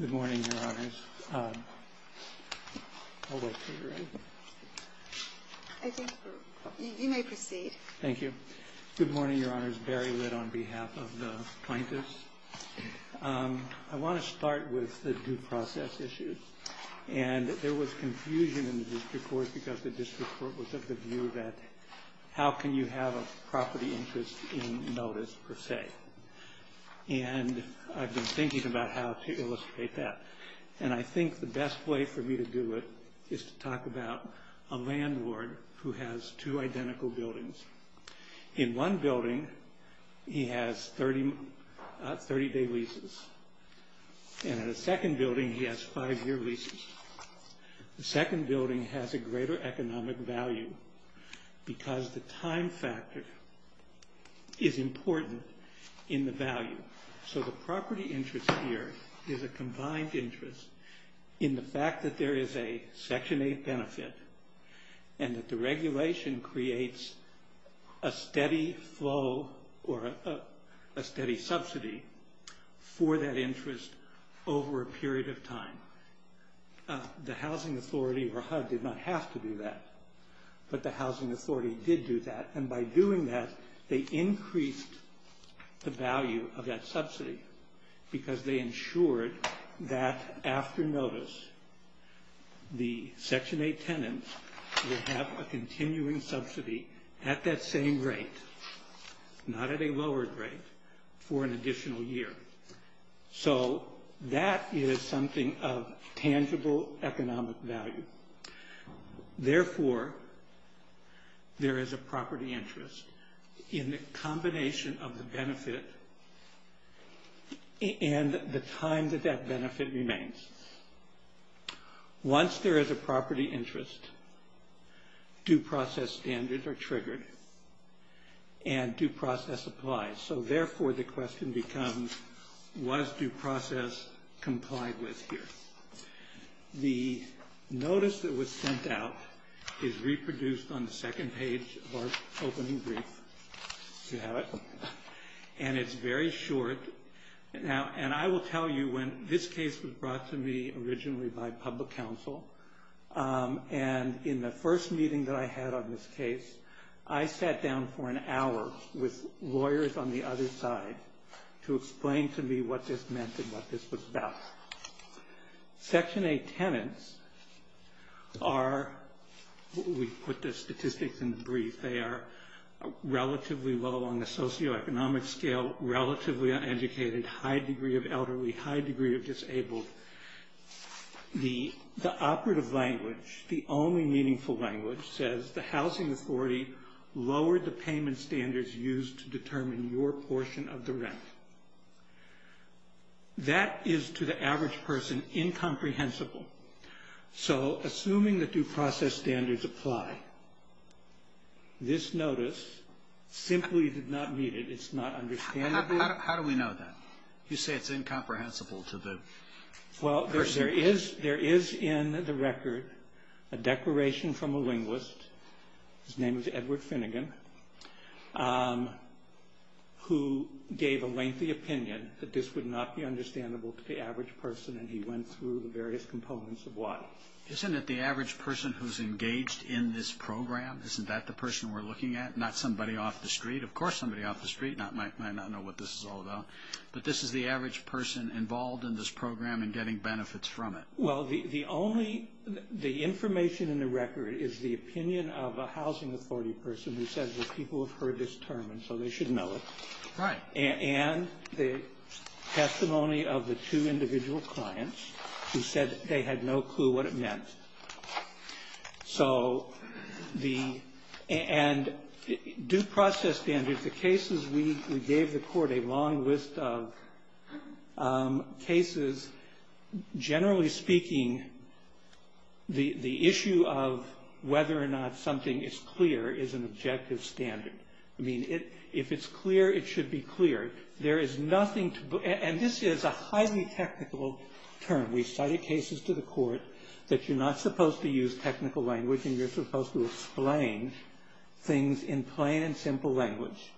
Good morning, your honors. I'll wait until you're ready. I think you may proceed. Thank you. Good morning, your honors. Barry Litt on behalf of the plaintiffs. I want to start with the due process issues. And there was confusion in the district court because the district court was of the view that how can you have a property interest in notice, per se? And I've been thinking about how to illustrate that. And I think the best way for me to do it is to talk about a landlord who has two identical buildings. In one building, he has 30-day leases. And in the second building, he has five-year leases. The second building has a greater economic value because the time factor is important in the value. So the property interest here is a combined interest in the fact that there is a Section 8 benefit and that the regulation creates a steady flow or a steady subsidy for that interest over a period of time. The Housing Authority or HUD did not have to do that, but the Housing Authority did do that. And by doing that, they increased the value of that subsidy because they ensured that after notice, the Section 8 tenants would have a continuing subsidy at that same rate, not at a lowered rate, for an additional year. So that is something of tangible economic value. Therefore, there is a property interest in the combination of the benefit and the time that that benefit remains. Once there is a property interest, due process standards are triggered and due process applies. So therefore, the question becomes, was due process complied with here? The notice that was sent out is reproduced on the second page of our opening brief. Do you have it? And it's very short. And I will tell you, when this case was brought to me originally by public counsel, and in the first meeting that I had on this case, I sat down for an hour with lawyers on the other side to explain to me what this meant and what this was about. Section 8 tenants are, we put the statistics in brief, they are relatively low on the socioeconomic scale, relatively uneducated, high degree of elderly, high degree of disabled. The operative language, the only meaningful language, says, the housing authority lowered the payment standards used to determine your portion of the rent. That is, to the average person, incomprehensible. So assuming the due process standards apply, this notice simply did not meet it. It's not understandable. How do we know that? You say it's incomprehensible to the person. Well, there is in the record a declaration from a linguist, his name is Edward Finnegan, who gave a lengthy opinion that this would not be understandable to the average person, and he went through the various components of why. Isn't it the average person who's engaged in this program? Isn't that the person we're looking at? Not somebody off the street. Of course somebody off the street might not know what this is all about. But this is the average person involved in this program and getting benefits from it. Well, the only the information in the record is the opinion of a housing authority person who says that people have heard this term and so they should know it. Right. And the testimony of the two individual clients who said they had no clue what it meant. So the and due process standards, the cases we gave the court a long list of cases. Generally speaking, the issue of whether or not something is clear is an objective standard. I mean, if it's clear, it should be clear. There is nothing to and this is a highly technical term. We cited cases to the court that you're not supposed to use technical language and you're supposed to explain things in plain and simple language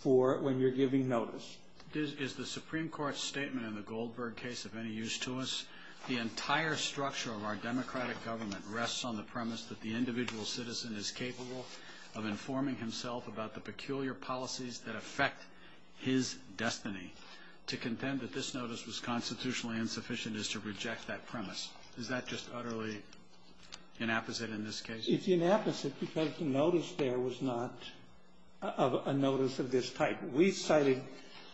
for when you're giving notice. Is the Supreme Court's statement in the Goldberg case of any use to us? The entire structure of our democratic government rests on the premise that the individual citizen is capable of informing himself about the peculiar policies that affect his destiny. To contend that this notice was constitutionally insufficient is to reject that premise. Is that just utterly inapposite in this case? It's inapposite because the notice there was not a notice of this type. We cited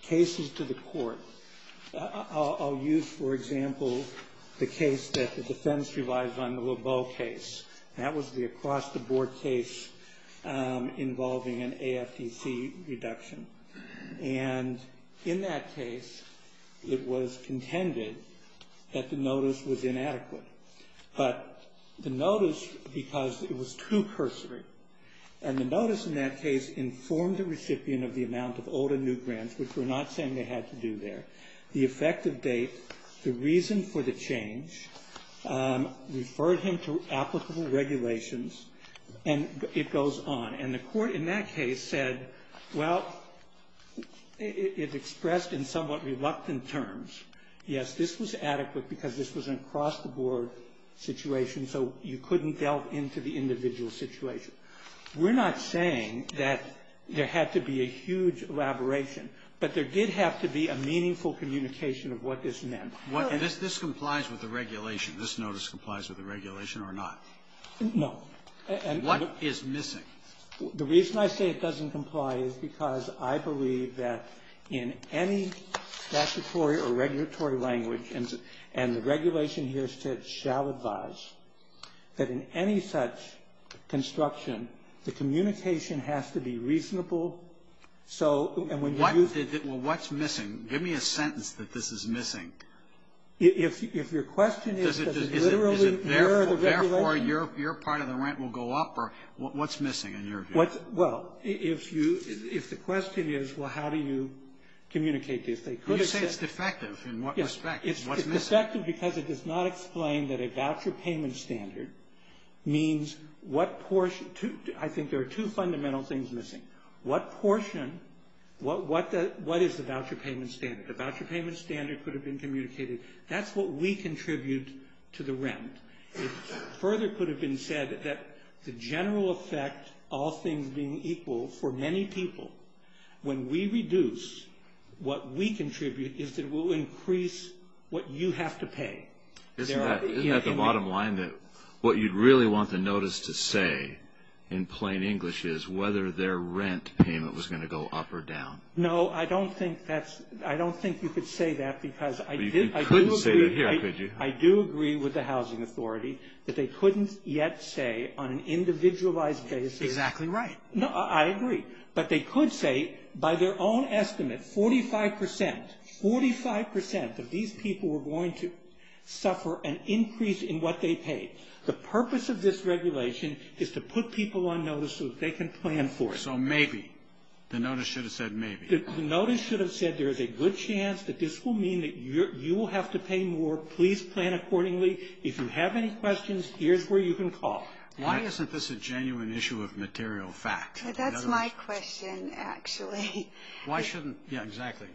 cases to the court. I'll use, for example, the case that the defense relies on, the Lebeau case. That was the across-the-board case involving an AFTC reduction. And in that case, it was contended that the notice was inadequate. But the notice, because it was too cursory, and the notice in that case informed the recipient of the amount of old and new grants, which we're not saying they had to do there, the effective date, the reason for the change, referred him to applicable regulations, and it goes on. And the court in that case said, well, it expressed in somewhat reluctant terms, yes, this was adequate because this was an across-the-board situation, so you couldn't delve into the individual situation. We're not saying that there had to be a huge elaboration, but there did have to be a meaningful communication of what this meant. And this complies with the regulation. This notice complies with the regulation or not? No. What is missing? The reason I say it doesn't comply is because I believe that in any statutory or regulatory language, and the regulation here says shall advise, that in any such construction, the communication has to be reasonable. So, and when you use the ---- Well, what's missing? Give me a sentence that this is missing. If your question is that it literally mirrors the regulation ---- What's missing in your view? Well, if you ---- if the question is, well, how do you communicate this, they could have said ---- You say it's defective. In what respect? What's missing? It's defective because it does not explain that a voucher payment standard means what portion ---- I think there are two fundamental things missing. What portion, what is the voucher payment standard? The voucher payment standard could have been communicated. That's what we contribute to the rent. It further could have been said that the general effect, all things being equal for many people, when we reduce what we contribute, is that it will increase what you have to pay. Isn't that the bottom line that what you'd really want the notice to say in plain English is whether their rent payment was going to go up or down? No, I don't think that's ---- I don't think you could say that because I did ---- You couldn't say that here, could you? I do agree with the Housing Authority that they couldn't yet say on an individualized basis ---- Exactly right. No, I agree. But they could say by their own estimate 45%, 45% of these people were going to suffer an increase in what they paid. The purpose of this regulation is to put people on notice so that they can plan for it. So maybe, the notice should have said maybe. The notice should have said there is a good chance that this will mean that you will have to pay more. Please plan accordingly. If you have any questions, here's where you can call. Why isn't this a genuine issue of material fact? That's my question, actually. Why shouldn't ---- Yeah, exactly.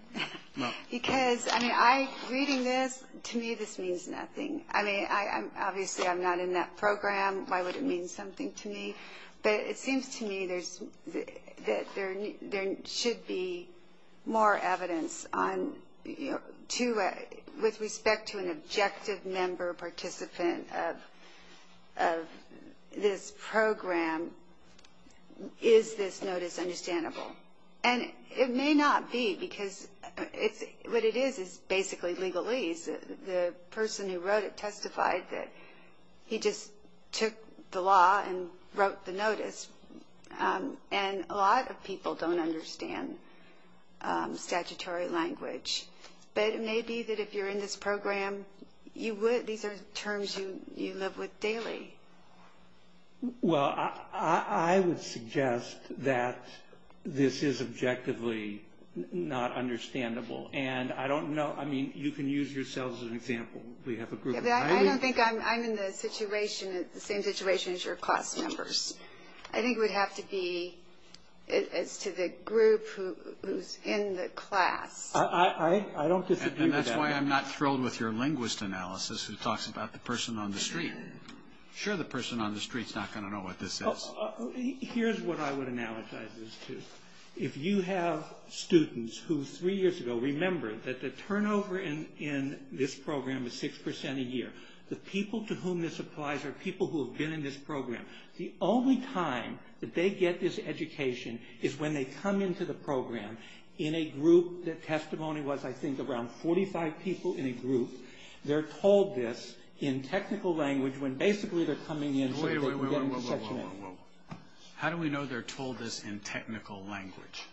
Because, I mean, reading this, to me this means nothing. I mean, obviously I'm not in that program. Why would it mean something to me? But it seems to me that there should be more evidence with respect to an objective member participant of this program. Is this notice understandable? And it may not be because what it is is basically legalese. The person who wrote it testified that he just took the law and wrote the notice. And a lot of people don't understand statutory language. But it may be that if you're in this program, these are terms you live with daily. Well, I would suggest that this is objectively not understandable. And I don't know. I mean, you can use yourself as an example. We have a group. I don't think I'm in the same situation as your class members. I think it would have to be as to the group who's in the class. I don't disagree with that. And that's why I'm not thrilled with your linguist analysis who talks about the person on the street. Sure, the person on the street's not going to know what this is. Here's what I would analogize this to. If you have students who three years ago, remember that the turnover in this program is 6% a year. The people to whom this applies are people who have been in this program. The only time that they get this education is when they come into the program in a group that testimony was, I think, around 45 people in a group. They're told this in technical language when basically they're coming in so that they can get in the section. Whoa, whoa, whoa. How do we know they're told this in technical language?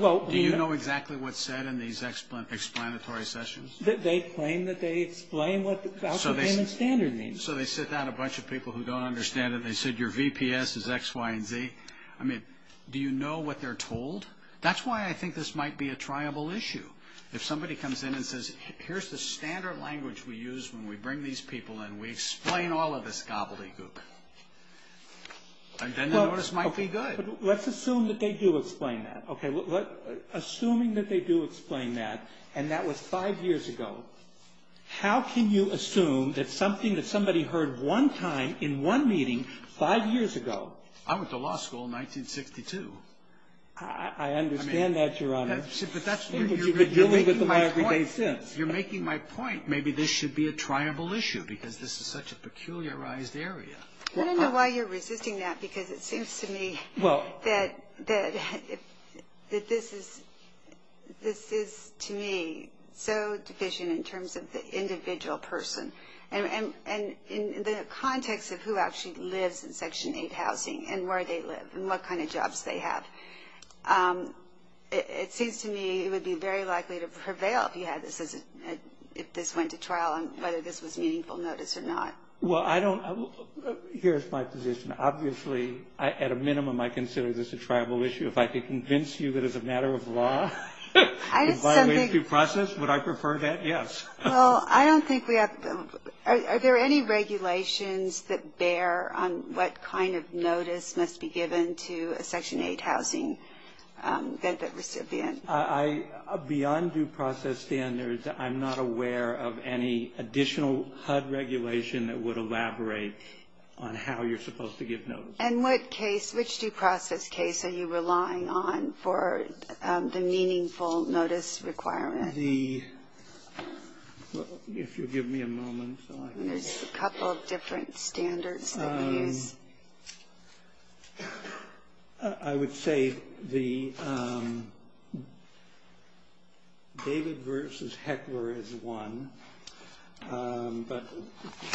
Do you know exactly what's said in these explanatory sessions? They claim that they explain what the Algebraic Standard means. So they sit down a bunch of people who don't understand it. They said your VPS is X, Y, and Z. I mean, do you know what they're told? That's why I think this might be a triable issue. If somebody comes in and says, here's the standard language we use when we bring these people in. We explain all of this gobbledygook. Then the notice might be good. Let's assume that they do explain that. Assuming that they do explain that and that was five years ago, how can you assume that something that somebody heard one time in one meeting five years ago. I went to law school in 1962. I understand that, Your Honor. You've been dealing with them every day since. You're making my point. Maybe this should be a triable issue because this is such a peculiarized area. I don't know why you're resisting that because it seems to me that this is, to me, so division in terms of the individual person. And in the context of who actually lives in Section 8 housing and where they live and what kind of jobs they have. It seems to me it would be very likely to prevail if this went to trial and whether this was a meaningful notice or not. Well, here's my position. Obviously, at a minimum, I consider this a triable issue. If I could convince you that it's a matter of law and by way of due process, would I prefer that? Yes. Well, I don't think we have. Are there any regulations that bear on what kind of notice must be given to a Section 8 housing recipient? Beyond due process standards, I'm not aware of any additional HUD regulation that would elaborate on how you're supposed to give notice. And what case, which due process case are you relying on for the meaningful notice requirement? The, if you'll give me a moment. There's a couple of different standards that you use. I would say the David versus Heckler is one. But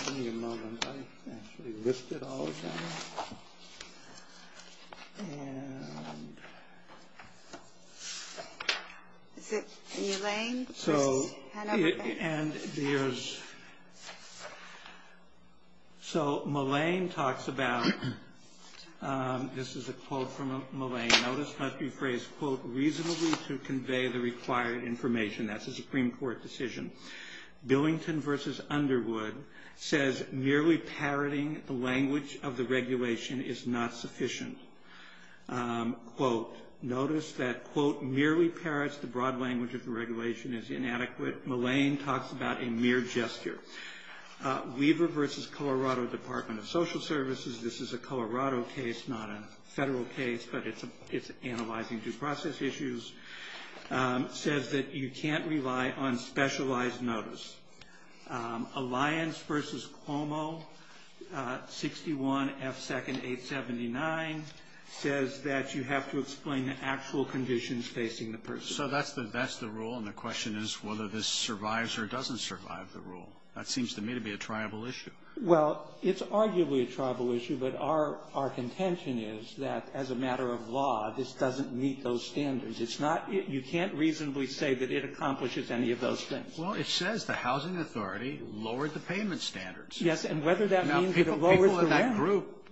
give me a moment. I actually listed all of them. Is it Mulane? So Mulane talks about, this is a quote from Mulane. Notice must be phrased, quote, reasonably to convey the required information. That's a Supreme Court decision. Billington versus Underwood says merely parroting the language of the regulation is not sufficient. Quote, notice that, quote, merely parrots the broad language of the regulation is inadequate. Mulane talks about a mere gesture. Weaver versus Colorado Department of Social Services. This is a Colorado case, not a federal case, but it's analyzing due process issues. Says that you can't rely on specialized notice. Alliance versus Cuomo, 61F2nd879, says that you have to explain the actual conditions facing the person. So that's the rule, and the question is whether this survives or doesn't survive the rule. That seems to me to be a tribal issue. Well, it's arguably a tribal issue, but our contention is that as a matter of law, this doesn't meet those standards. You can't reasonably say that it accomplishes any of those things. Well, it says the housing authority lowered the payment standards. Yes, and whether that means that it lowers the rent. Now, people in that group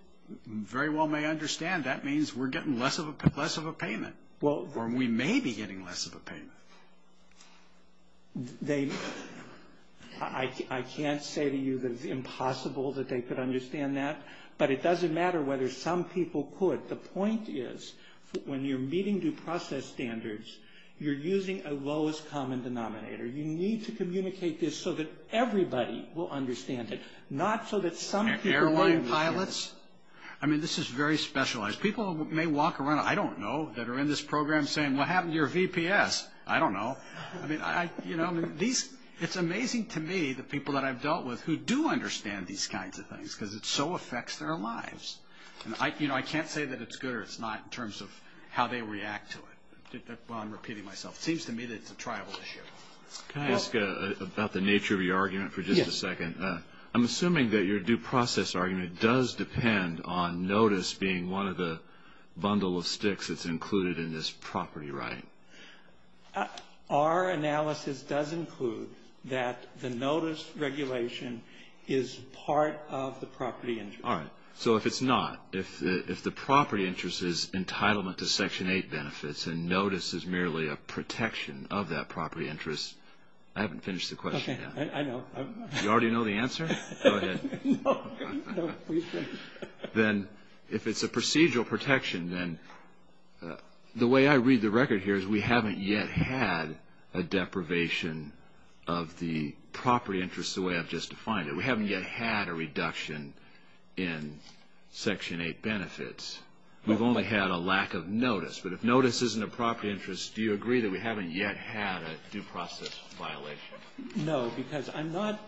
very well may understand that means we're getting less of a payment, or we may be getting less of a payment. I can't say to you that it's impossible that they could understand that, but it doesn't matter whether some people could. The point is when you're meeting due process standards, you're using a lowest common denominator. You need to communicate this so that everybody will understand it, not so that some people don't. And airline pilots? I mean, this is very specialized. People may walk around, I don't know, that are in this program saying, what happened to your VPS? I don't know. I mean, it's amazing to me the people that I've dealt with who do understand these kinds of things because it so affects their lives. I can't say that it's good or it's not in terms of how they react to it. I'm repeating myself. It seems to me that it's a tribal issue. Can I ask about the nature of your argument for just a second? Yes. I'm assuming that your due process argument does depend on notice being one of the bundle of sticks that's included in this property right. Our analysis does include that the notice regulation is part of the property injury. All right. So if it's not, if the property interest is entitlement to Section 8 benefits and notice is merely a protection of that property interest, I haven't finished the question yet. Okay. I know. You already know the answer? Go ahead. Then if it's a procedural protection, then the way I read the record here is we haven't yet had a deprivation of the property interest the way I've just defined it. We haven't yet had a reduction in Section 8 benefits. We've only had a lack of notice. But if notice isn't a property interest, do you agree that we haven't yet had a due process violation? No, because I'm not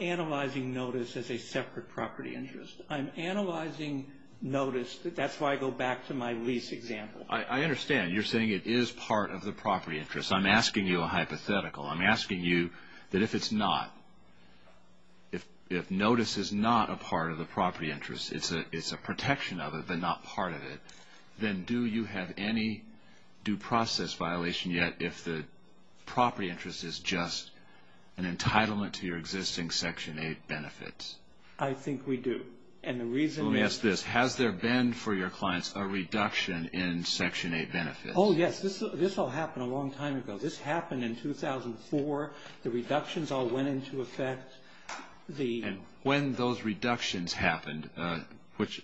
analyzing notice as a separate property interest. I'm analyzing notice. That's why I go back to my lease example. I understand. You're saying it is part of the property interest. I'm asking you a hypothetical. I'm asking you that if it's not, if notice is not a part of the property interest, it's a protection of it but not part of it, then do you have any due process violation yet if the property interest is just an entitlement to your existing Section 8 benefits? I think we do. And the reason is... Let me ask this. Has there been for your clients a reduction in Section 8 benefits? Oh, yes. This all happened a long time ago. This happened in 2004. The reductions all went into effect. And when those reductions happened, which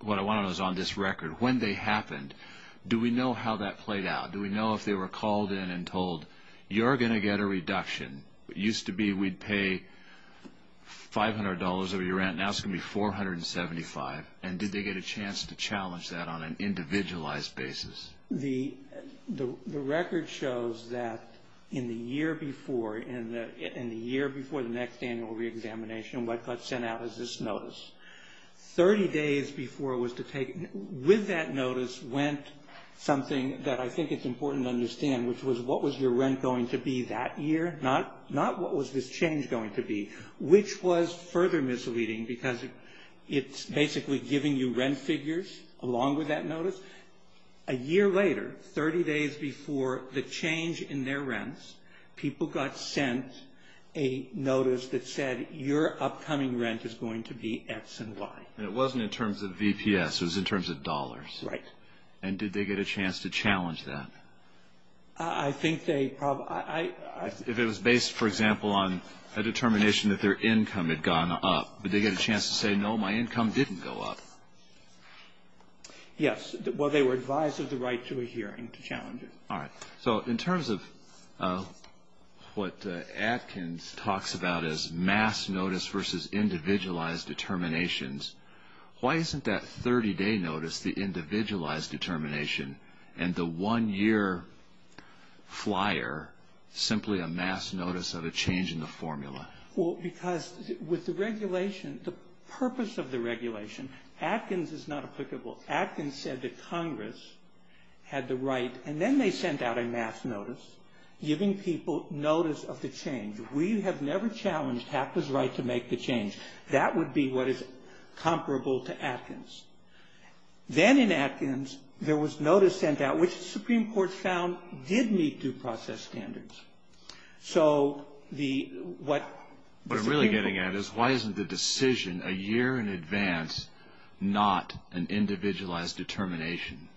what I want to know is on this record, when they happened, do we know how that played out? Do we know if they were called in and told, you're going to get a reduction. It used to be we'd pay $500 over your rent. Now it's going to be $475. And did they get a chance to challenge that on an individualized basis? The record shows that in the year before, in the year before the next annual reexamination, what got sent out was this notice. Thirty days before it was to take, with that notice, went something that I think it's important to understand, which was what was your rent going to be that year, not what was this change going to be, which was further misleading because it's basically giving you rent figures along with that notice. A year later, 30 days before the change in their rents, people got sent a notice that said your upcoming rent is going to be X and Y. And it wasn't in terms of VPS. It was in terms of dollars. Right. And did they get a chance to challenge that? I think they probably – If it was based, for example, on a determination that their income had gone up, did they get a chance to say, no, my income didn't go up? Yes. Well, they were advised of the right to a hearing to challenge it. All right. So in terms of what Atkins talks about as mass notice versus individualized determinations, why isn't that 30-day notice the individualized determination and the one-year flyer simply a mass notice of a change in the formula? Well, because with the regulation, the purpose of the regulation, Atkins is not applicable. Atkins said that Congress had the right – and then they sent out a mass notice giving people notice of the change. We have never challenged HACTA's right to make the change. That would be what is comparable to Atkins. Then in Atkins, there was notice sent out, which the Supreme Court found did meet due process standards. So the – what – What I'm really getting at is why isn't the decision a year in advance not an individualized determination?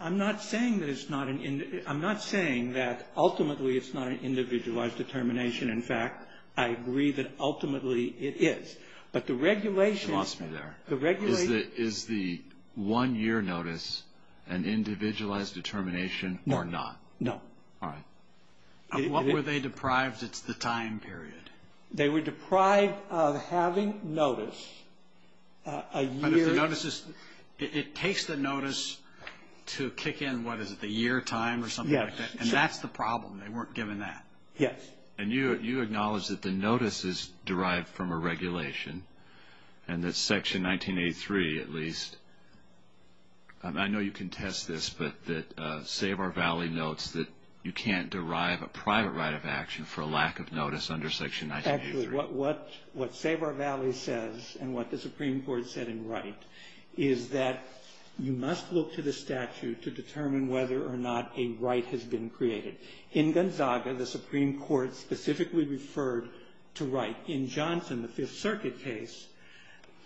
I'm not saying that it's not an – I'm not saying that ultimately it's not an individualized determination. In fact, I agree that ultimately it is. But the regulation – She lost me there. The regulation – Is the one-year notice an individualized determination or not? No. All right. What were they deprived – it's the time period. They were deprived of having notice a year – But if the notice is – it takes the notice to kick in, what, is it the year time or something like that? Yes. And that's the problem. They weren't given that. Yes. And you acknowledge that the notice is derived from a regulation and that Section 1983 at least – It's that you can't derive a private right of action for a lack of notice under Section 1983. Actually, what Save Our Valley says and what the Supreme Court said in Wright is that you must look to the statute to determine whether or not a right has been created. In Gonzaga, the Supreme Court specifically referred to Wright. In Johnson, the Fifth Circuit case,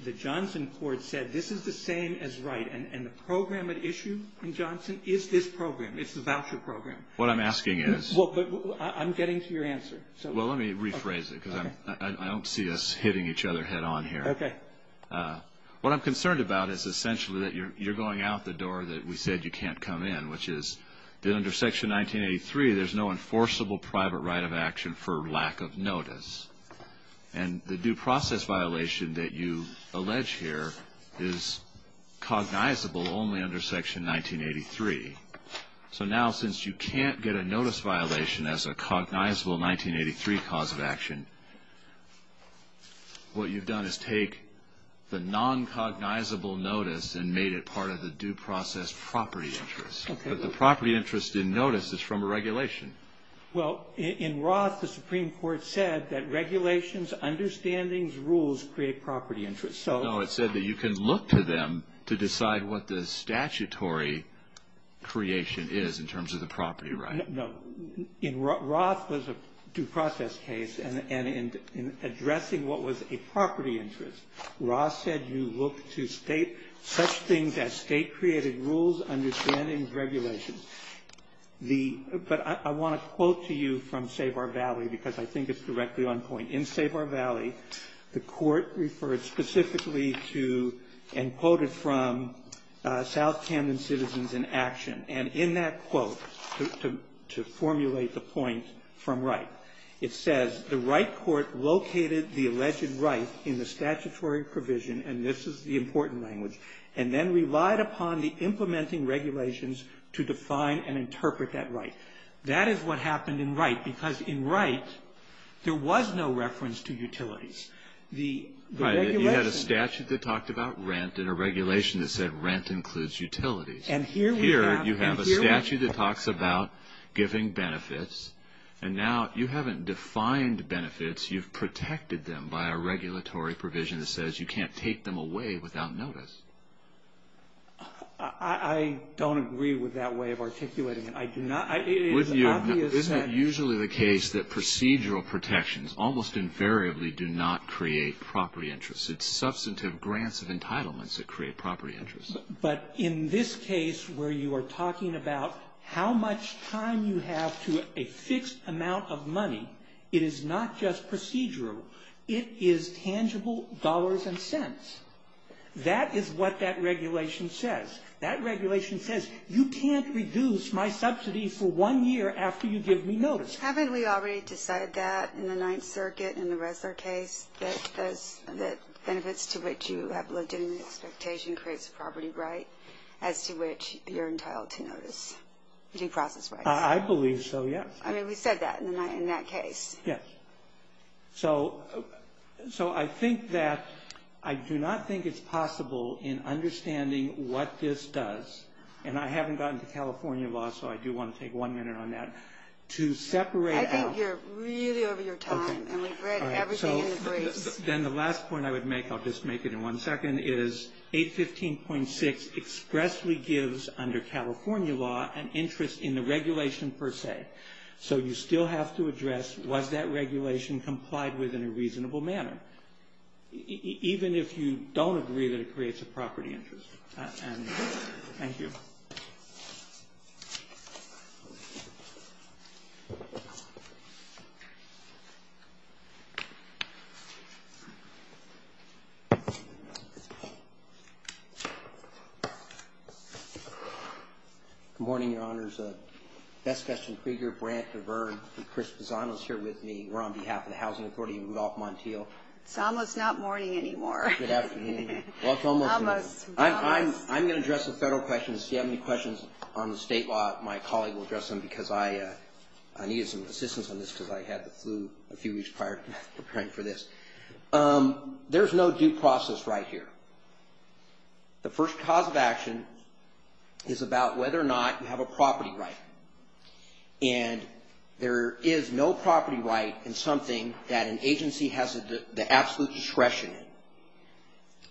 the Johnson court said this is the same as Wright. And the program at issue in Johnson is this program. It's the voucher program. What I'm asking is – Well, but I'm getting to your answer. Well, let me rephrase it because I don't see us hitting each other head on here. Okay. What I'm concerned about is essentially that you're going out the door that we said you can't come in, which is that under Section 1983, there's no enforceable private right of action for lack of notice. And the due process violation that you allege here is cognizable only under Section 1983. So now since you can't get a notice violation as a cognizable 1983 cause of action, what you've done is take the non-cognizable notice and made it part of the due process property interest. Okay. But the property interest in notice is from a regulation. Well, in Roth, the Supreme Court said that regulations, understandings, rules create property interest. So – No, it said that you can look to them to decide what the statutory creation is in terms of the property right. No. In – Roth was a due process case, and in addressing what was a property interest, Roth said you look to state – such things as state-created rules, understandings, regulations. The – but I want to quote to you from Sabar Valley, because I think it's directly on point. In Sabar Valley, the Court referred specifically to, and quoted from, South Camden Citizens in Action. And in that quote, to formulate the point from Wright, it says, the Wright Court located the alleged right in the statutory provision, and this is the important language, and then relied upon the implementing regulations to define and interpret that right. That is what happened in Wright, because in Wright, there was no reference to utilities. The – Right. You had a statute that talked about rent and a regulation that said rent includes utilities. And here we have – Here, you have a statute that talks about giving benefits, and now you haven't defined benefits. You've protected them by a regulatory provision that says you can't take them away without notice. I don't agree with that way of articulating it. I do not – it is obvious that – Wouldn't you agree? Isn't it usually the case that procedural protections almost invariably do not create property interests? It's substantive grants of entitlements that create property interests. But in this case, where you are talking about how much time you have to a fixed amount of money, it is not just procedural. It is tangible dollars and cents. That is what that regulation says. That regulation says you can't reduce my subsidy for one year after you give me notice. Haven't we already decided that in the Ninth Circuit, in the Ressler case, that benefits to which you have legitimate expectation creates a property right, as to which you're entitled to notice due process rights? I believe so, yes. I mean, we said that in that case. Yes. So I think that – I do not think it's possible in understanding what this does – and I haven't gotten to California law, so I do want to take one minute on that – to separate out – I think you're really over your time, and we've read everything in the briefs. Then the last point I would make – I'll just make it in one second – is 815.6 expressly gives, under California law, an interest in the regulation per se. So you still have to address was that regulation complied with in a reasonable manner, even if you don't agree that it creates a property interest. Thank you. Good morning, Your Honors. Bess Gustin Krieger, Brant DeVern, and Chris Pisanos here with me. We're on behalf of the Housing Authority and Rudolph Montiel. It's almost not morning anymore. Good afternoon. Well, it's almost morning. Almost. I'm going to address the federal questions. If you have any questions on the state law, my colleague will address them, because I needed some assistance on this because I had the flu a few weeks prior to preparing for this. There's no due process right here. The first cause of action is about whether or not you have a property right. And there is no property right in something that an agency has the absolute discretion in.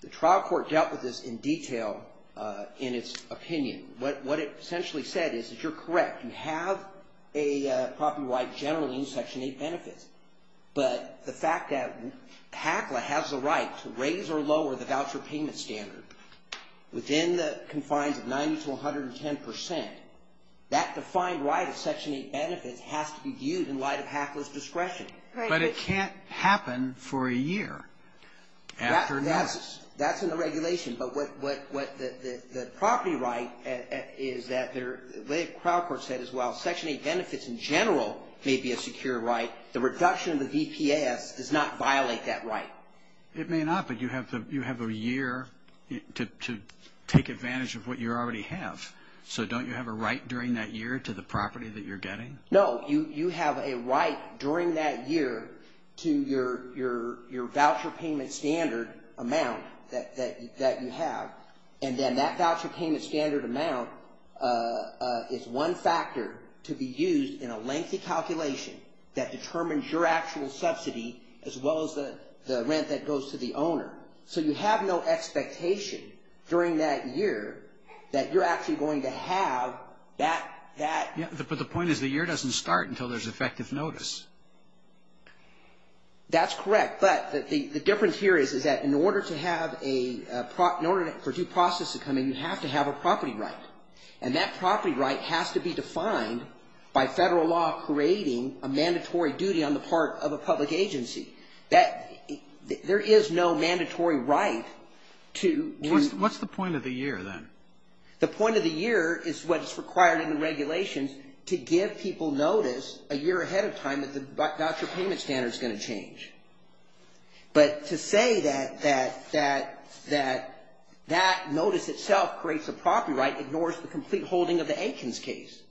The trial court dealt with this in detail in its opinion. What it essentially said is that you're correct. You have a property right generally in Section 8 benefits. But the fact that HACLA has the right to raise or lower the voucher payment standard within the confines of 90 to 110 percent, that defined right of Section 8 benefits has to be viewed in light of HACLA's discretion. But it can't happen for a year. That's in the regulation. But the property right is that the way the trial court said as well, Section 8 benefits in general may be a secure right. The reduction of the VPS does not violate that right. It may not, but you have a year to take advantage of what you already have. So don't you have a right during that year to the property that you're getting? No. You have a right during that year to your voucher payment standard amount that you have. And then that voucher payment standard amount is one factor to be used in a lengthy calculation that determines your actual subsidy as well as the rent that goes to the owner. So you have no expectation during that year that you're actually going to have that. But the point is the year doesn't start until there's effective notice. That's correct. But the difference here is that in order for due process to come in, you have to have a property right. And that property right has to be defined by Federal law creating a mandatory duty on the part of a public agency. There is no mandatory right to do that. What's the point of the year then? The point of the year is what's required in the regulations to give people notice a year ahead of time that the voucher payment standard is going to change. But to say that that notice itself creates a property right ignores the complete holding of the Aikens case.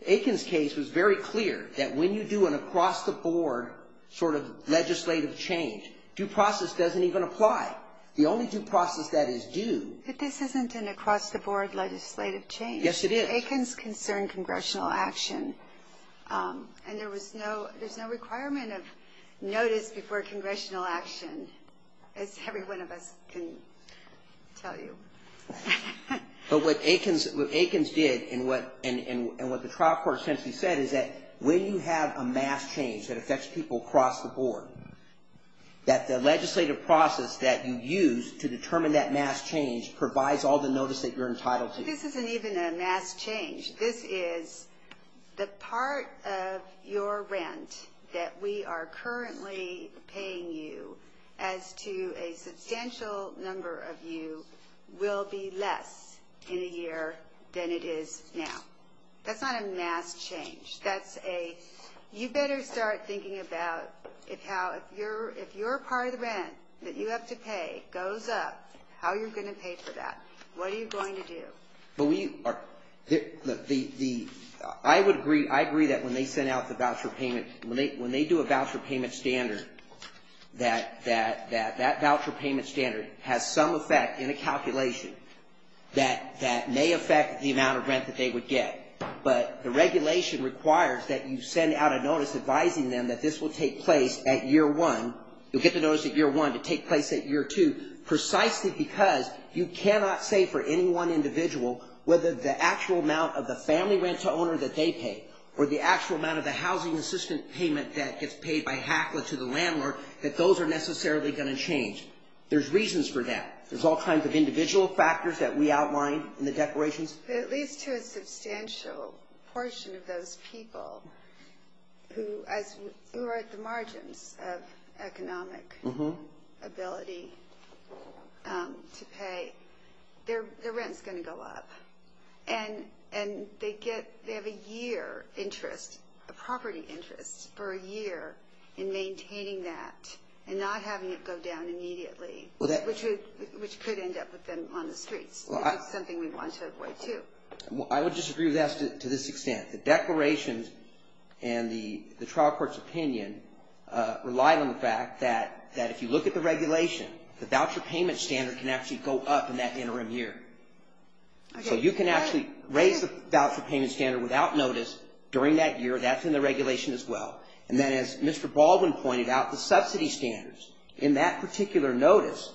The Aikens case was very clear that when you do an across-the-board sort of legislative change, due process doesn't even apply. The only due process that is due. But this isn't an across-the-board legislative change. Yes, it is. Aikens concerned congressional action. And there was no requirement of notice before congressional action, as every one of us can tell you. But what Aikens did and what the trial court essentially said is that when you have a mass change that affects people across the board, that the legislative process that you use to determine that mass change provides all the notice that you're entitled to. This isn't even a mass change. This is the part of your rent that we are currently paying you as to a substantial number of you will be less in a year than it is now. That's not a mass change. You better start thinking about if you're a part of the rent that you have to pay goes up, how you're going to pay for that. What are you going to do? I agree that when they send out the voucher payment, when they do a voucher payment standard, that voucher payment standard has some effect in a calculation that may affect the amount of rent that they would get. But the regulation requires that you send out a notice advising them that this will take place at year one. You'll get the notice at year one to take place at year two, precisely because you cannot say for any one individual whether the actual amount of the family rent to the owner that they pay or the actual amount of the housing assistant payment that gets paid by HACLA to the landlord, that those are necessarily going to change. There's reasons for that. There's all kinds of individual factors that we outlined in the declarations. At least to a substantial portion of those people who are at the margins of economic ability to pay, their rent is going to go up. And they have a year interest, a property interest, for a year in maintaining that and not having it go down immediately, which could end up with them on the streets. It's something we want to avoid, too. I would disagree with that to this extent. The declarations and the trial court's opinion rely on the fact that if you look at the regulation, the voucher payment standard can actually go up in that interim year. So you can actually raise the voucher payment standard without notice during that year. That's in the regulation as well. And then as Mr. Baldwin pointed out, the subsidy standards, in that particular notice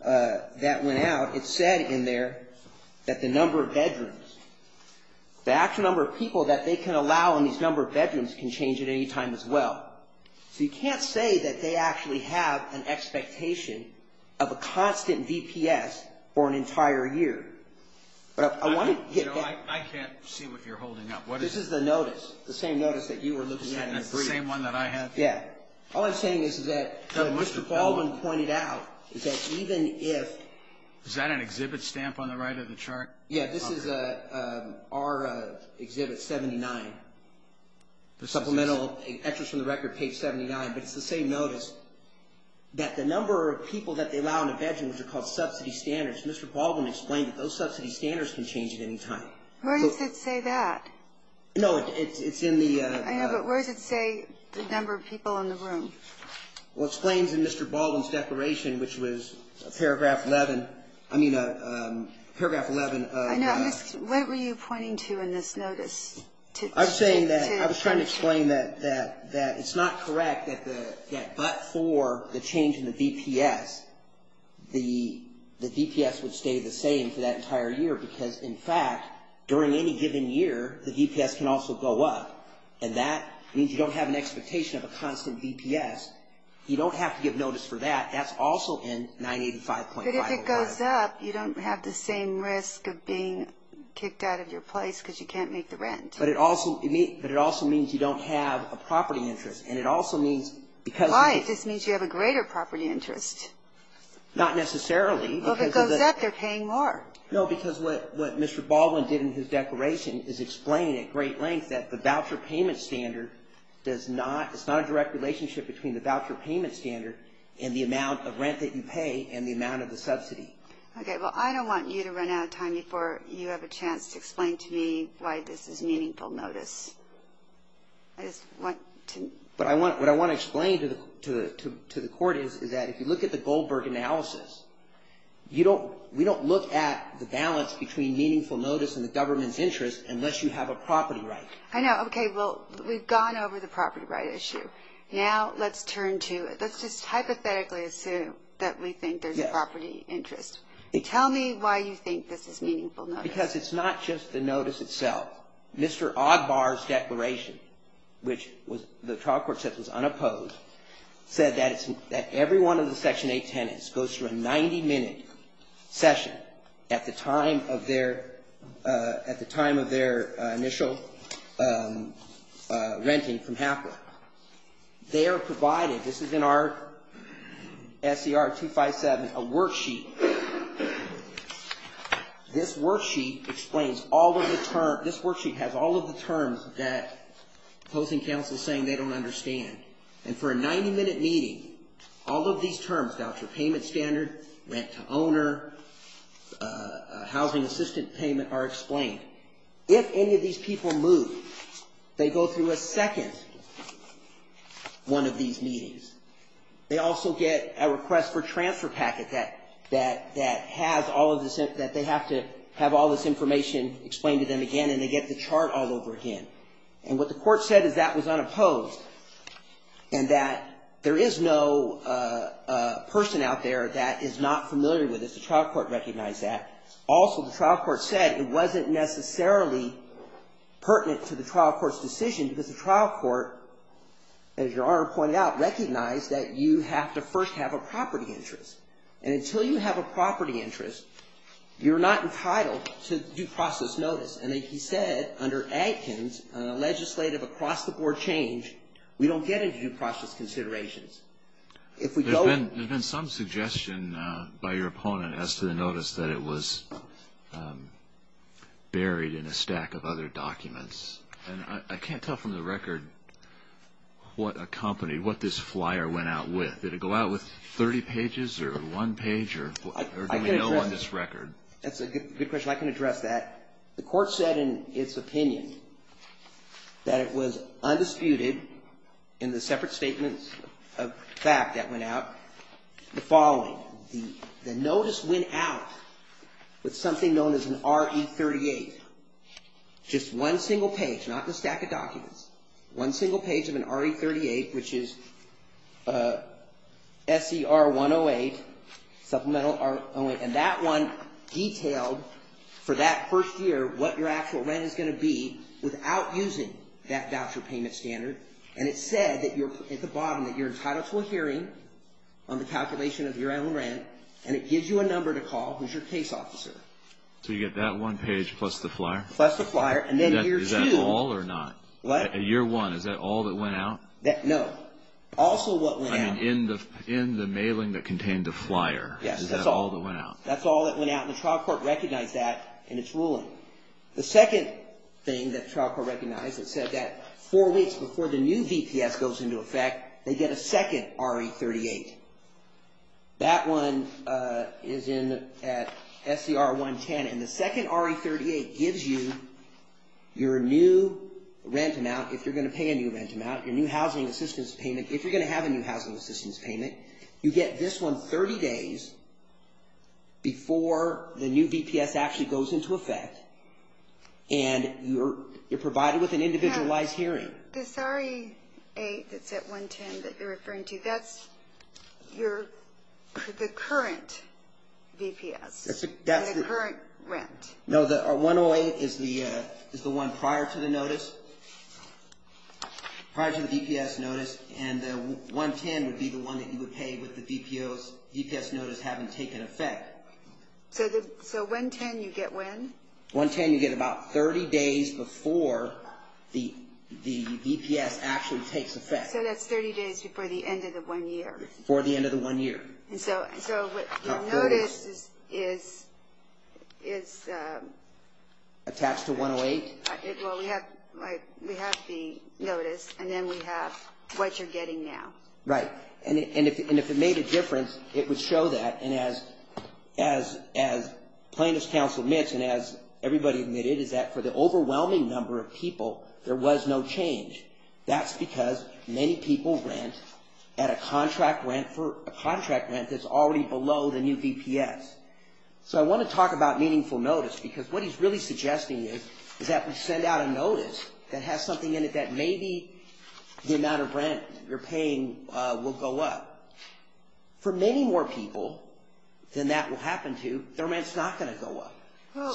that went out, it said in there that the number of bedrooms, the actual number of people that they can allow in these number of bedrooms can change at any time as well. So you can't say that they actually have an expectation of a constant VPS for an entire year. But I want to get back. I can't see what you're holding up. This is the notice, the same notice that you were looking at in the brief. The same one that I have? Yeah. All I'm saying is that what Mr. Baldwin pointed out is that even if ---- Is that an exhibit stamp on the right of the chart? Yeah. This is our Exhibit 79, Supplemental Excerpts from the Record, Page 79. But it's the same notice that the number of people that they allow in a bedroom, which are called subsidy standards, Mr. Baldwin explained that those subsidy standards can change at any time. Where does it say that? It's in the ---- I know, but where does it say the number of people in the room? Well, it explains in Mr. Baldwin's declaration, which was Paragraph 11. I mean, Paragraph 11. I know. What were you pointing to in this notice? I was trying to explain that it's not correct that but for the change in the VPS, the VPS would stay the same for that entire year because, in fact, during any given year, the VPS can also go up, and that means you don't have an expectation of a constant VPS. You don't have to give notice for that. That's also in 985.5. But if it goes up, you don't have the same risk of being kicked out of your place because you can't make the rent. But it also means you don't have a property interest, and it also means because ---- Why? If this means you have a greater property interest? Not necessarily. Well, if it goes up, they're paying more. No, because what Mr. Baldwin did in his declaration is explain at great length that the voucher payment standard does not ---- it's not a direct relationship between the voucher payment standard and the amount of rent that you pay and the amount of the subsidy. Okay. Well, I don't want you to run out of time before you have a chance to explain to me why this is meaningful notice. I just want to ---- What I want to explain to the Court is that if you look at the Goldberg analysis, you don't ---- we don't look at the balance between meaningful notice and the government's interest unless you have a property right. I know. Okay, well, we've gone over the property right issue. Now let's turn to ---- let's just hypothetically assume that we think there's a property interest. Tell me why you think this is meaningful notice. Because it's not just the notice itself. Mr. Ogbar's declaration, which the trial court said was unopposed, said that every one of the Section 8 tenants goes through a 90-minute session at the time of their initial renting from Halfway. They are provided ---- this is in our SCR 257, a worksheet. This worksheet explains all of the terms ---- this worksheet has all of the terms that opposing counsel is saying they don't understand. And for a 90-minute meeting, all of these terms, voucher payment standard, rent to owner, housing assistant payment, are explained. If any of these people move, they go through a second one of these meetings. They also get a request for transfer packet that has all of this ---- that they have to have all this information explained to them again, and they get the chart all over again. And what the court said is that was unopposed, and that there is no person out there that is not familiar with this. The trial court recognized that. Also, the trial court said it wasn't necessarily pertinent to the trial court's decision because the trial court, as Your Honor pointed out, recognized that you have to first have a property interest. And until you have a property interest, you're not entitled to due process notice. And he said under Atkins, legislative across-the-board change, we don't get into due process considerations. If we go ---- There's been some suggestion by your opponent as to the notice that it was buried in a stack of other documents. And I can't tell from the record what a company, what this flyer went out with. Did it go out with 30 pages or one page, or do we know on this record? That's a good question. I can address that. The court said in its opinion that it was undisputed, in the separate statements of fact that went out, the following. The notice went out with something known as an RE38. Just one single page, not the stack of documents. One single page of an RE38, which is SER108, supplemental R08. And that one detailed for that first year what your actual rent is going to be without using that voucher payment standard. And it said at the bottom that you're entitled to a hearing on the calculation of your rental rent. And it gives you a number to call, who's your case officer. So you get that one page plus the flyer? Plus the flyer. And then year two. Is that all or not? What? Year one, is that all that went out? No. Also what went out. In the mailing that contained the flyer. Is that all that went out? That's all that went out. And the trial court recognized that in its ruling. The second thing that the trial court recognized, it said that four weeks before the new VPS goes into effect, they get a second RE38. That one is at SER110. And the second RE38 gives you your new rent amount if you're going to pay a new rent amount, your new housing assistance payment if you're going to have a new housing assistance payment. You get this one 30 days before the new VPS actually goes into effect. And you're provided with an individualized hearing. The RE38 that's at 110 that you're referring to, that's the current VPS, the current rent. No, the 108 is the one prior to the notice, prior to the VPS notice. And the 110 would be the one that you would pay with the VPS notice having taken effect. So 110 you get when? 110 you get about 30 days before the VPS actually takes effect. So that's 30 days before the end of the one year. Before the end of the one year. So the notice is attached to 108? We have the notice, and then we have what you're getting now. Right. And if it made a difference, it would show that. And as Plaintiff's Counsel admits, and as everybody admitted, is that for the overwhelming number of people, there was no change. That's because many people rent at a contract rent that's already below the new VPS. So I want to talk about meaningful notice, because what he's really suggesting is that we send out a notice that has something in it that maybe the amount of rent you're paying will go up. For many more people than that will happen to, their rent's not going to go up.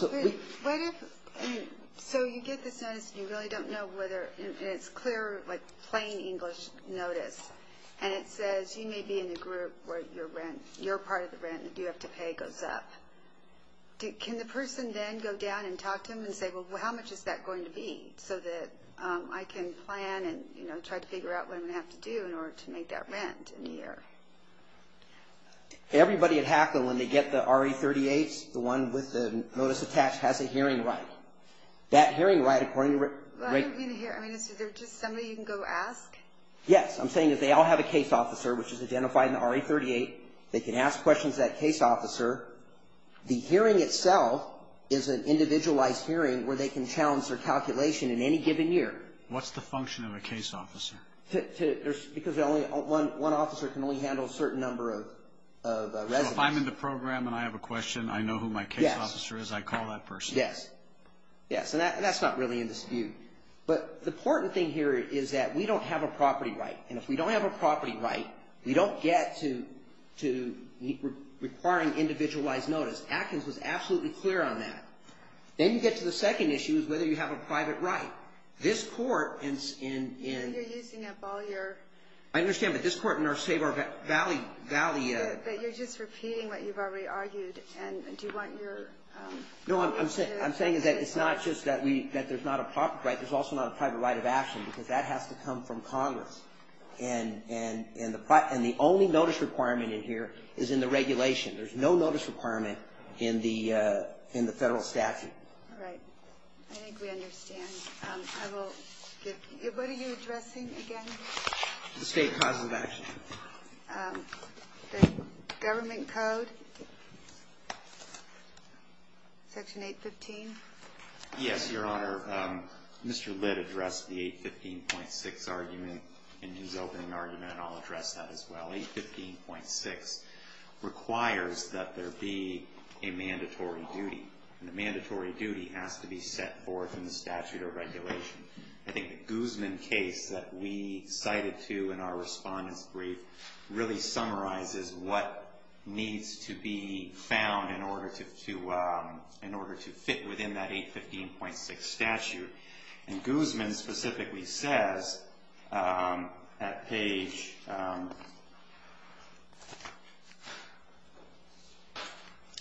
So you get this notice, and you really don't know whether it's clear, like plain English notice, and it says you may be in a group where your rent, your part of the rent that you have to pay goes up. Can the person then go down and talk to them and say, well, how much is that going to be, so that I can plan and try to figure out what I'm going to have to do in order to make that rent in a year? Everybody at HACLA, when they get the RE38s, the one with the notice attached, has a hearing right. That hearing right, according to rate – Well, I don't mean a hearing. I mean, is there just somebody you can go ask? Yes. I'm saying that they all have a case officer, which is identified in the RE38. They can ask questions to that case officer. The hearing itself is an individualized hearing where they can challenge their calculation in any given year. What's the function of a case officer? Because one officer can only handle a certain number of residents. So if I'm in the program and I have a question, I know who my case officer is, I call that person. Yes. Yes, and that's not really in dispute. But the important thing here is that we don't have a property right. And if we don't have a property right, we don't get to requiring individualized notice. Atkins was absolutely clear on that. Then you get to the second issue is whether you have a private right. This court in – You're using up all your – I understand, but this court in our Save Our Valley – But you're just repeating what you've already argued. And do you want your – No, I'm saying that it's not just that there's not a property right. There's also not a private right of action because that has to come from Congress. And the only notice requirement in here is in the regulation. There's no notice requirement in the federal statute. All right. I think we understand. I will give – what are you addressing again? The state causes of action. The government code. Section 815. Yes, Your Honor. Mr. Litt addressed the 815.6 argument in his opening argument, and I'll address that as well. 815.6 requires that there be a mandatory duty. And the mandatory duty has to be set forth in the statute or regulation. I think the Guzman case that we cited to in our Respondent's Brief really summarizes what needs to be found in order to fit within that 815.6 statute. And Guzman specifically says at page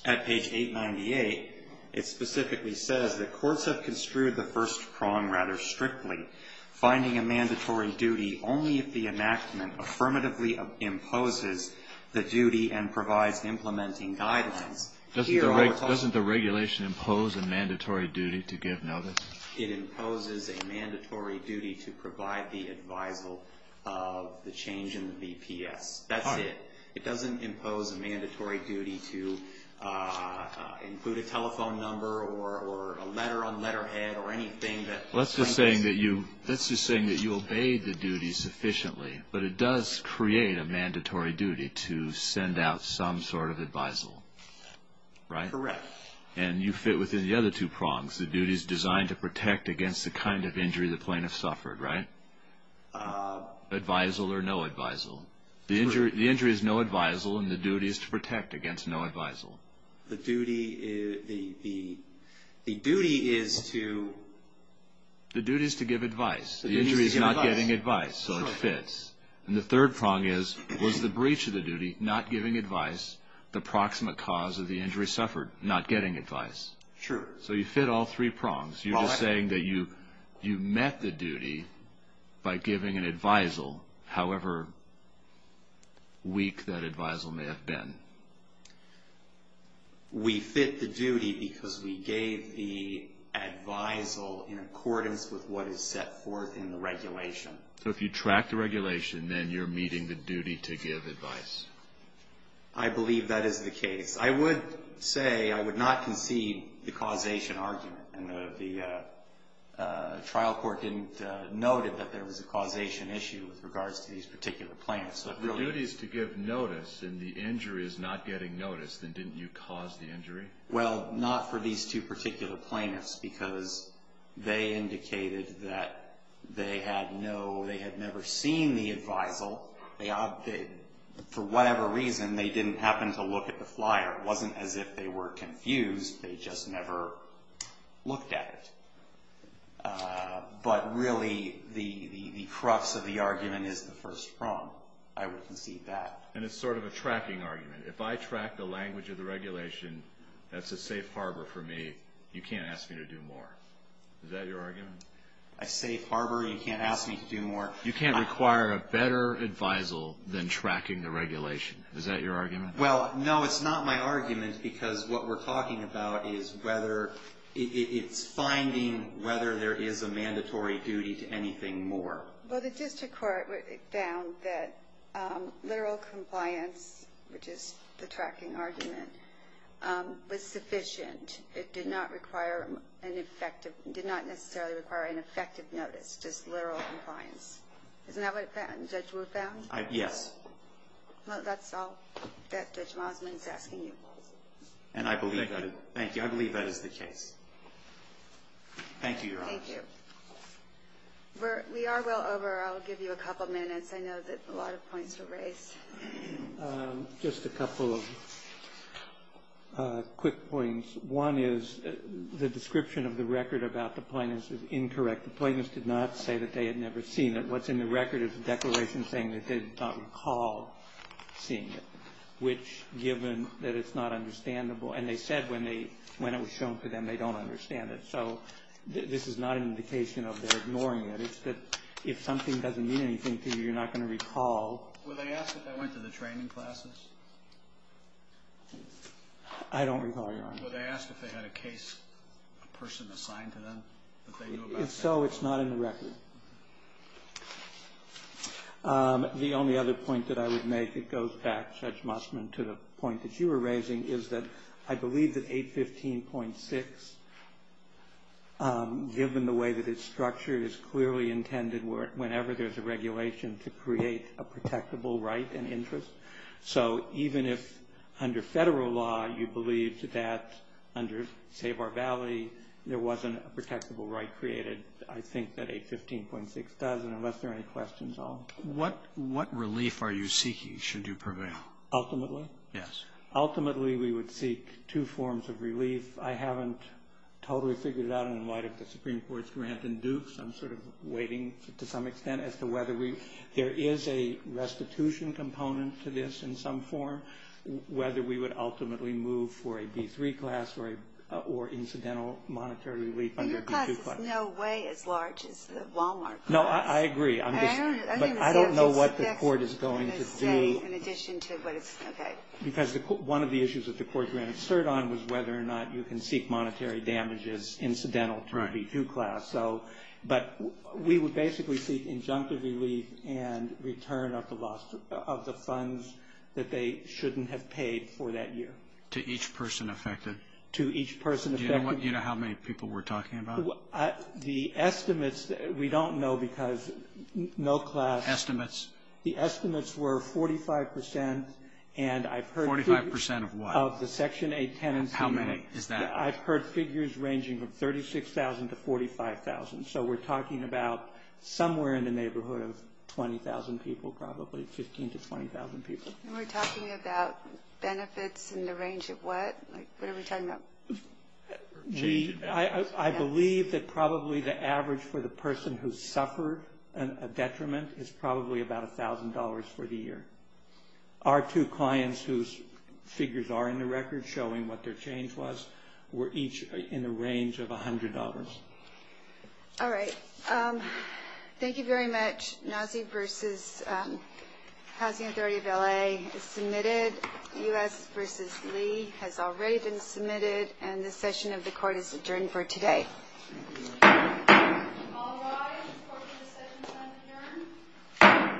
898, it specifically says that courts have construed the first prong rather strictly, finding a mandatory duty only if the enactment affirmatively imposes the duty and provides implementing guidelines. Doesn't the regulation impose a mandatory duty to give notice? It imposes a mandatory duty to provide the advisal of the change in the BPS. That's it. It doesn't impose a mandatory duty to include a telephone number or a letter on letterhead or anything. Let's just say that you obey the duty sufficiently, but it does create a mandatory duty to send out some sort of advisal, right? Correct. And you fit within the other two prongs. The duty is designed to protect against the kind of injury the plaintiff suffered, right? Advisal or no advisal. The injury is no advisal, and the duty is to protect against no advisal. The duty is to give advice. The injury is not getting advice, so it fits. And the third prong is, was the breach of the duty, not giving advice, the proximate cause of the injury suffered, not getting advice? True. So you fit all three prongs. You're just saying that you met the duty by giving an advisal, however weak that advisal may have been. We fit the duty because we gave the advisal in accordance with what is set forth in the regulation. So if you track the regulation, then you're meeting the duty to give advice. I believe that is the case. I would say I would not concede the causation argument. The trial court noted that there was a causation issue with regards to these particular plaintiffs. If the duty is to give notice and the injury is not getting notice, then didn't you cause the injury? Well, not for these two particular plaintiffs because they indicated that they had no, they had never seen the advisal. For whatever reason, they didn't happen to look at the flyer. It wasn't as if they were confused. They just never looked at it. But really, the crux of the argument is the first prong. I would concede that. And it's sort of a tracking argument. If I track the language of the regulation, that's a safe harbor for me. You can't ask me to do more. Is that your argument? A safe harbor? You can't ask me to do more? You can't require a better advisal than tracking the regulation. Is that your argument? Well, no, it's not my argument because what we're talking about is whether, it's finding whether there is a mandatory duty to anything more. Well, the district court found that literal compliance, which is the tracking argument, was sufficient. It did not require an effective, did not necessarily require an effective notice, just literal compliance. Isn't that what Judge Wood found? Yes. Well, that's all that Judge Mosman is asking you. Thank you. I believe that is the case. Thank you, Your Honor. Thank you. We are well over. I'll give you a couple minutes. I know that a lot of points were raised. Just a couple of quick points. One is the description of the record about the plaintiffs is incorrect. The plaintiffs did not say that they had never seen it. What's in the record is a declaration saying that they did not recall seeing it, which, given that it's not understandable, and they said when it was shown to them they don't understand it. So this is not an indication of their ignoring it. It's that if something doesn't mean anything to you, you're not going to recall. Were they asked if they went to the training classes? I don't recall, Your Honor. Were they asked if they had a case, a person assigned to them? If so, it's not in the record. The only other point that I would make, it goes back, Judge Mosman, to the point that you were raising, is that I believe that 815.6, given the way that it's structured, is clearly intended whenever there's a regulation to create a protectable right and interest. So even if, under Federal law, you believe that, under, say, Barbalee, there wasn't a protectable right created, I think that 815.6 does, and unless there are any questions, I'll... What relief are you seeking, should you prevail? Ultimately? Yes. Ultimately, we would seek two forms of relief. I haven't totally figured it out, and in light of the Supreme Court's grant in Dukes, I'm sort of waiting to some extent as to whether we... There is a restitution component to this in some form, whether we would ultimately move for a B-3 class or incidental monetary relief under B-2 class. Your class is no way as large as the Wal-Mart class. No, I agree. I don't know what the court is going to do. Because one of the issues that the court granted cert on was whether or not you can seek monetary damages incidental to a B-2 class. But we would basically seek injunctive relief and return of the funds that they shouldn't have paid for that year. To each person affected? To each person affected. Do you know how many people we're talking about? The estimates, we don't know because no class... Estimates? The estimates were 45%, and I've heard... 45% of what? Of the Section 8 tenancy. How many is that? I've heard figures ranging from 36,000 to 45,000. So we're talking about somewhere in the neighborhood of 20,000 people, probably 15,000 to 20,000 people. And we're talking about benefits in the range of what? What are we talking about? I believe that probably the average for the person who suffered a detriment is probably about $1,000 for the year. Our two clients whose figures are in the record showing what their change was were each in the range of $100. All right. Thank you very much. NAWSI versus Housing Authority of L.A. is submitted. U.S. versus Lee has already been submitted, and this session of the Court is adjourned for today. All rise for the session to adjourn.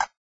Thank you.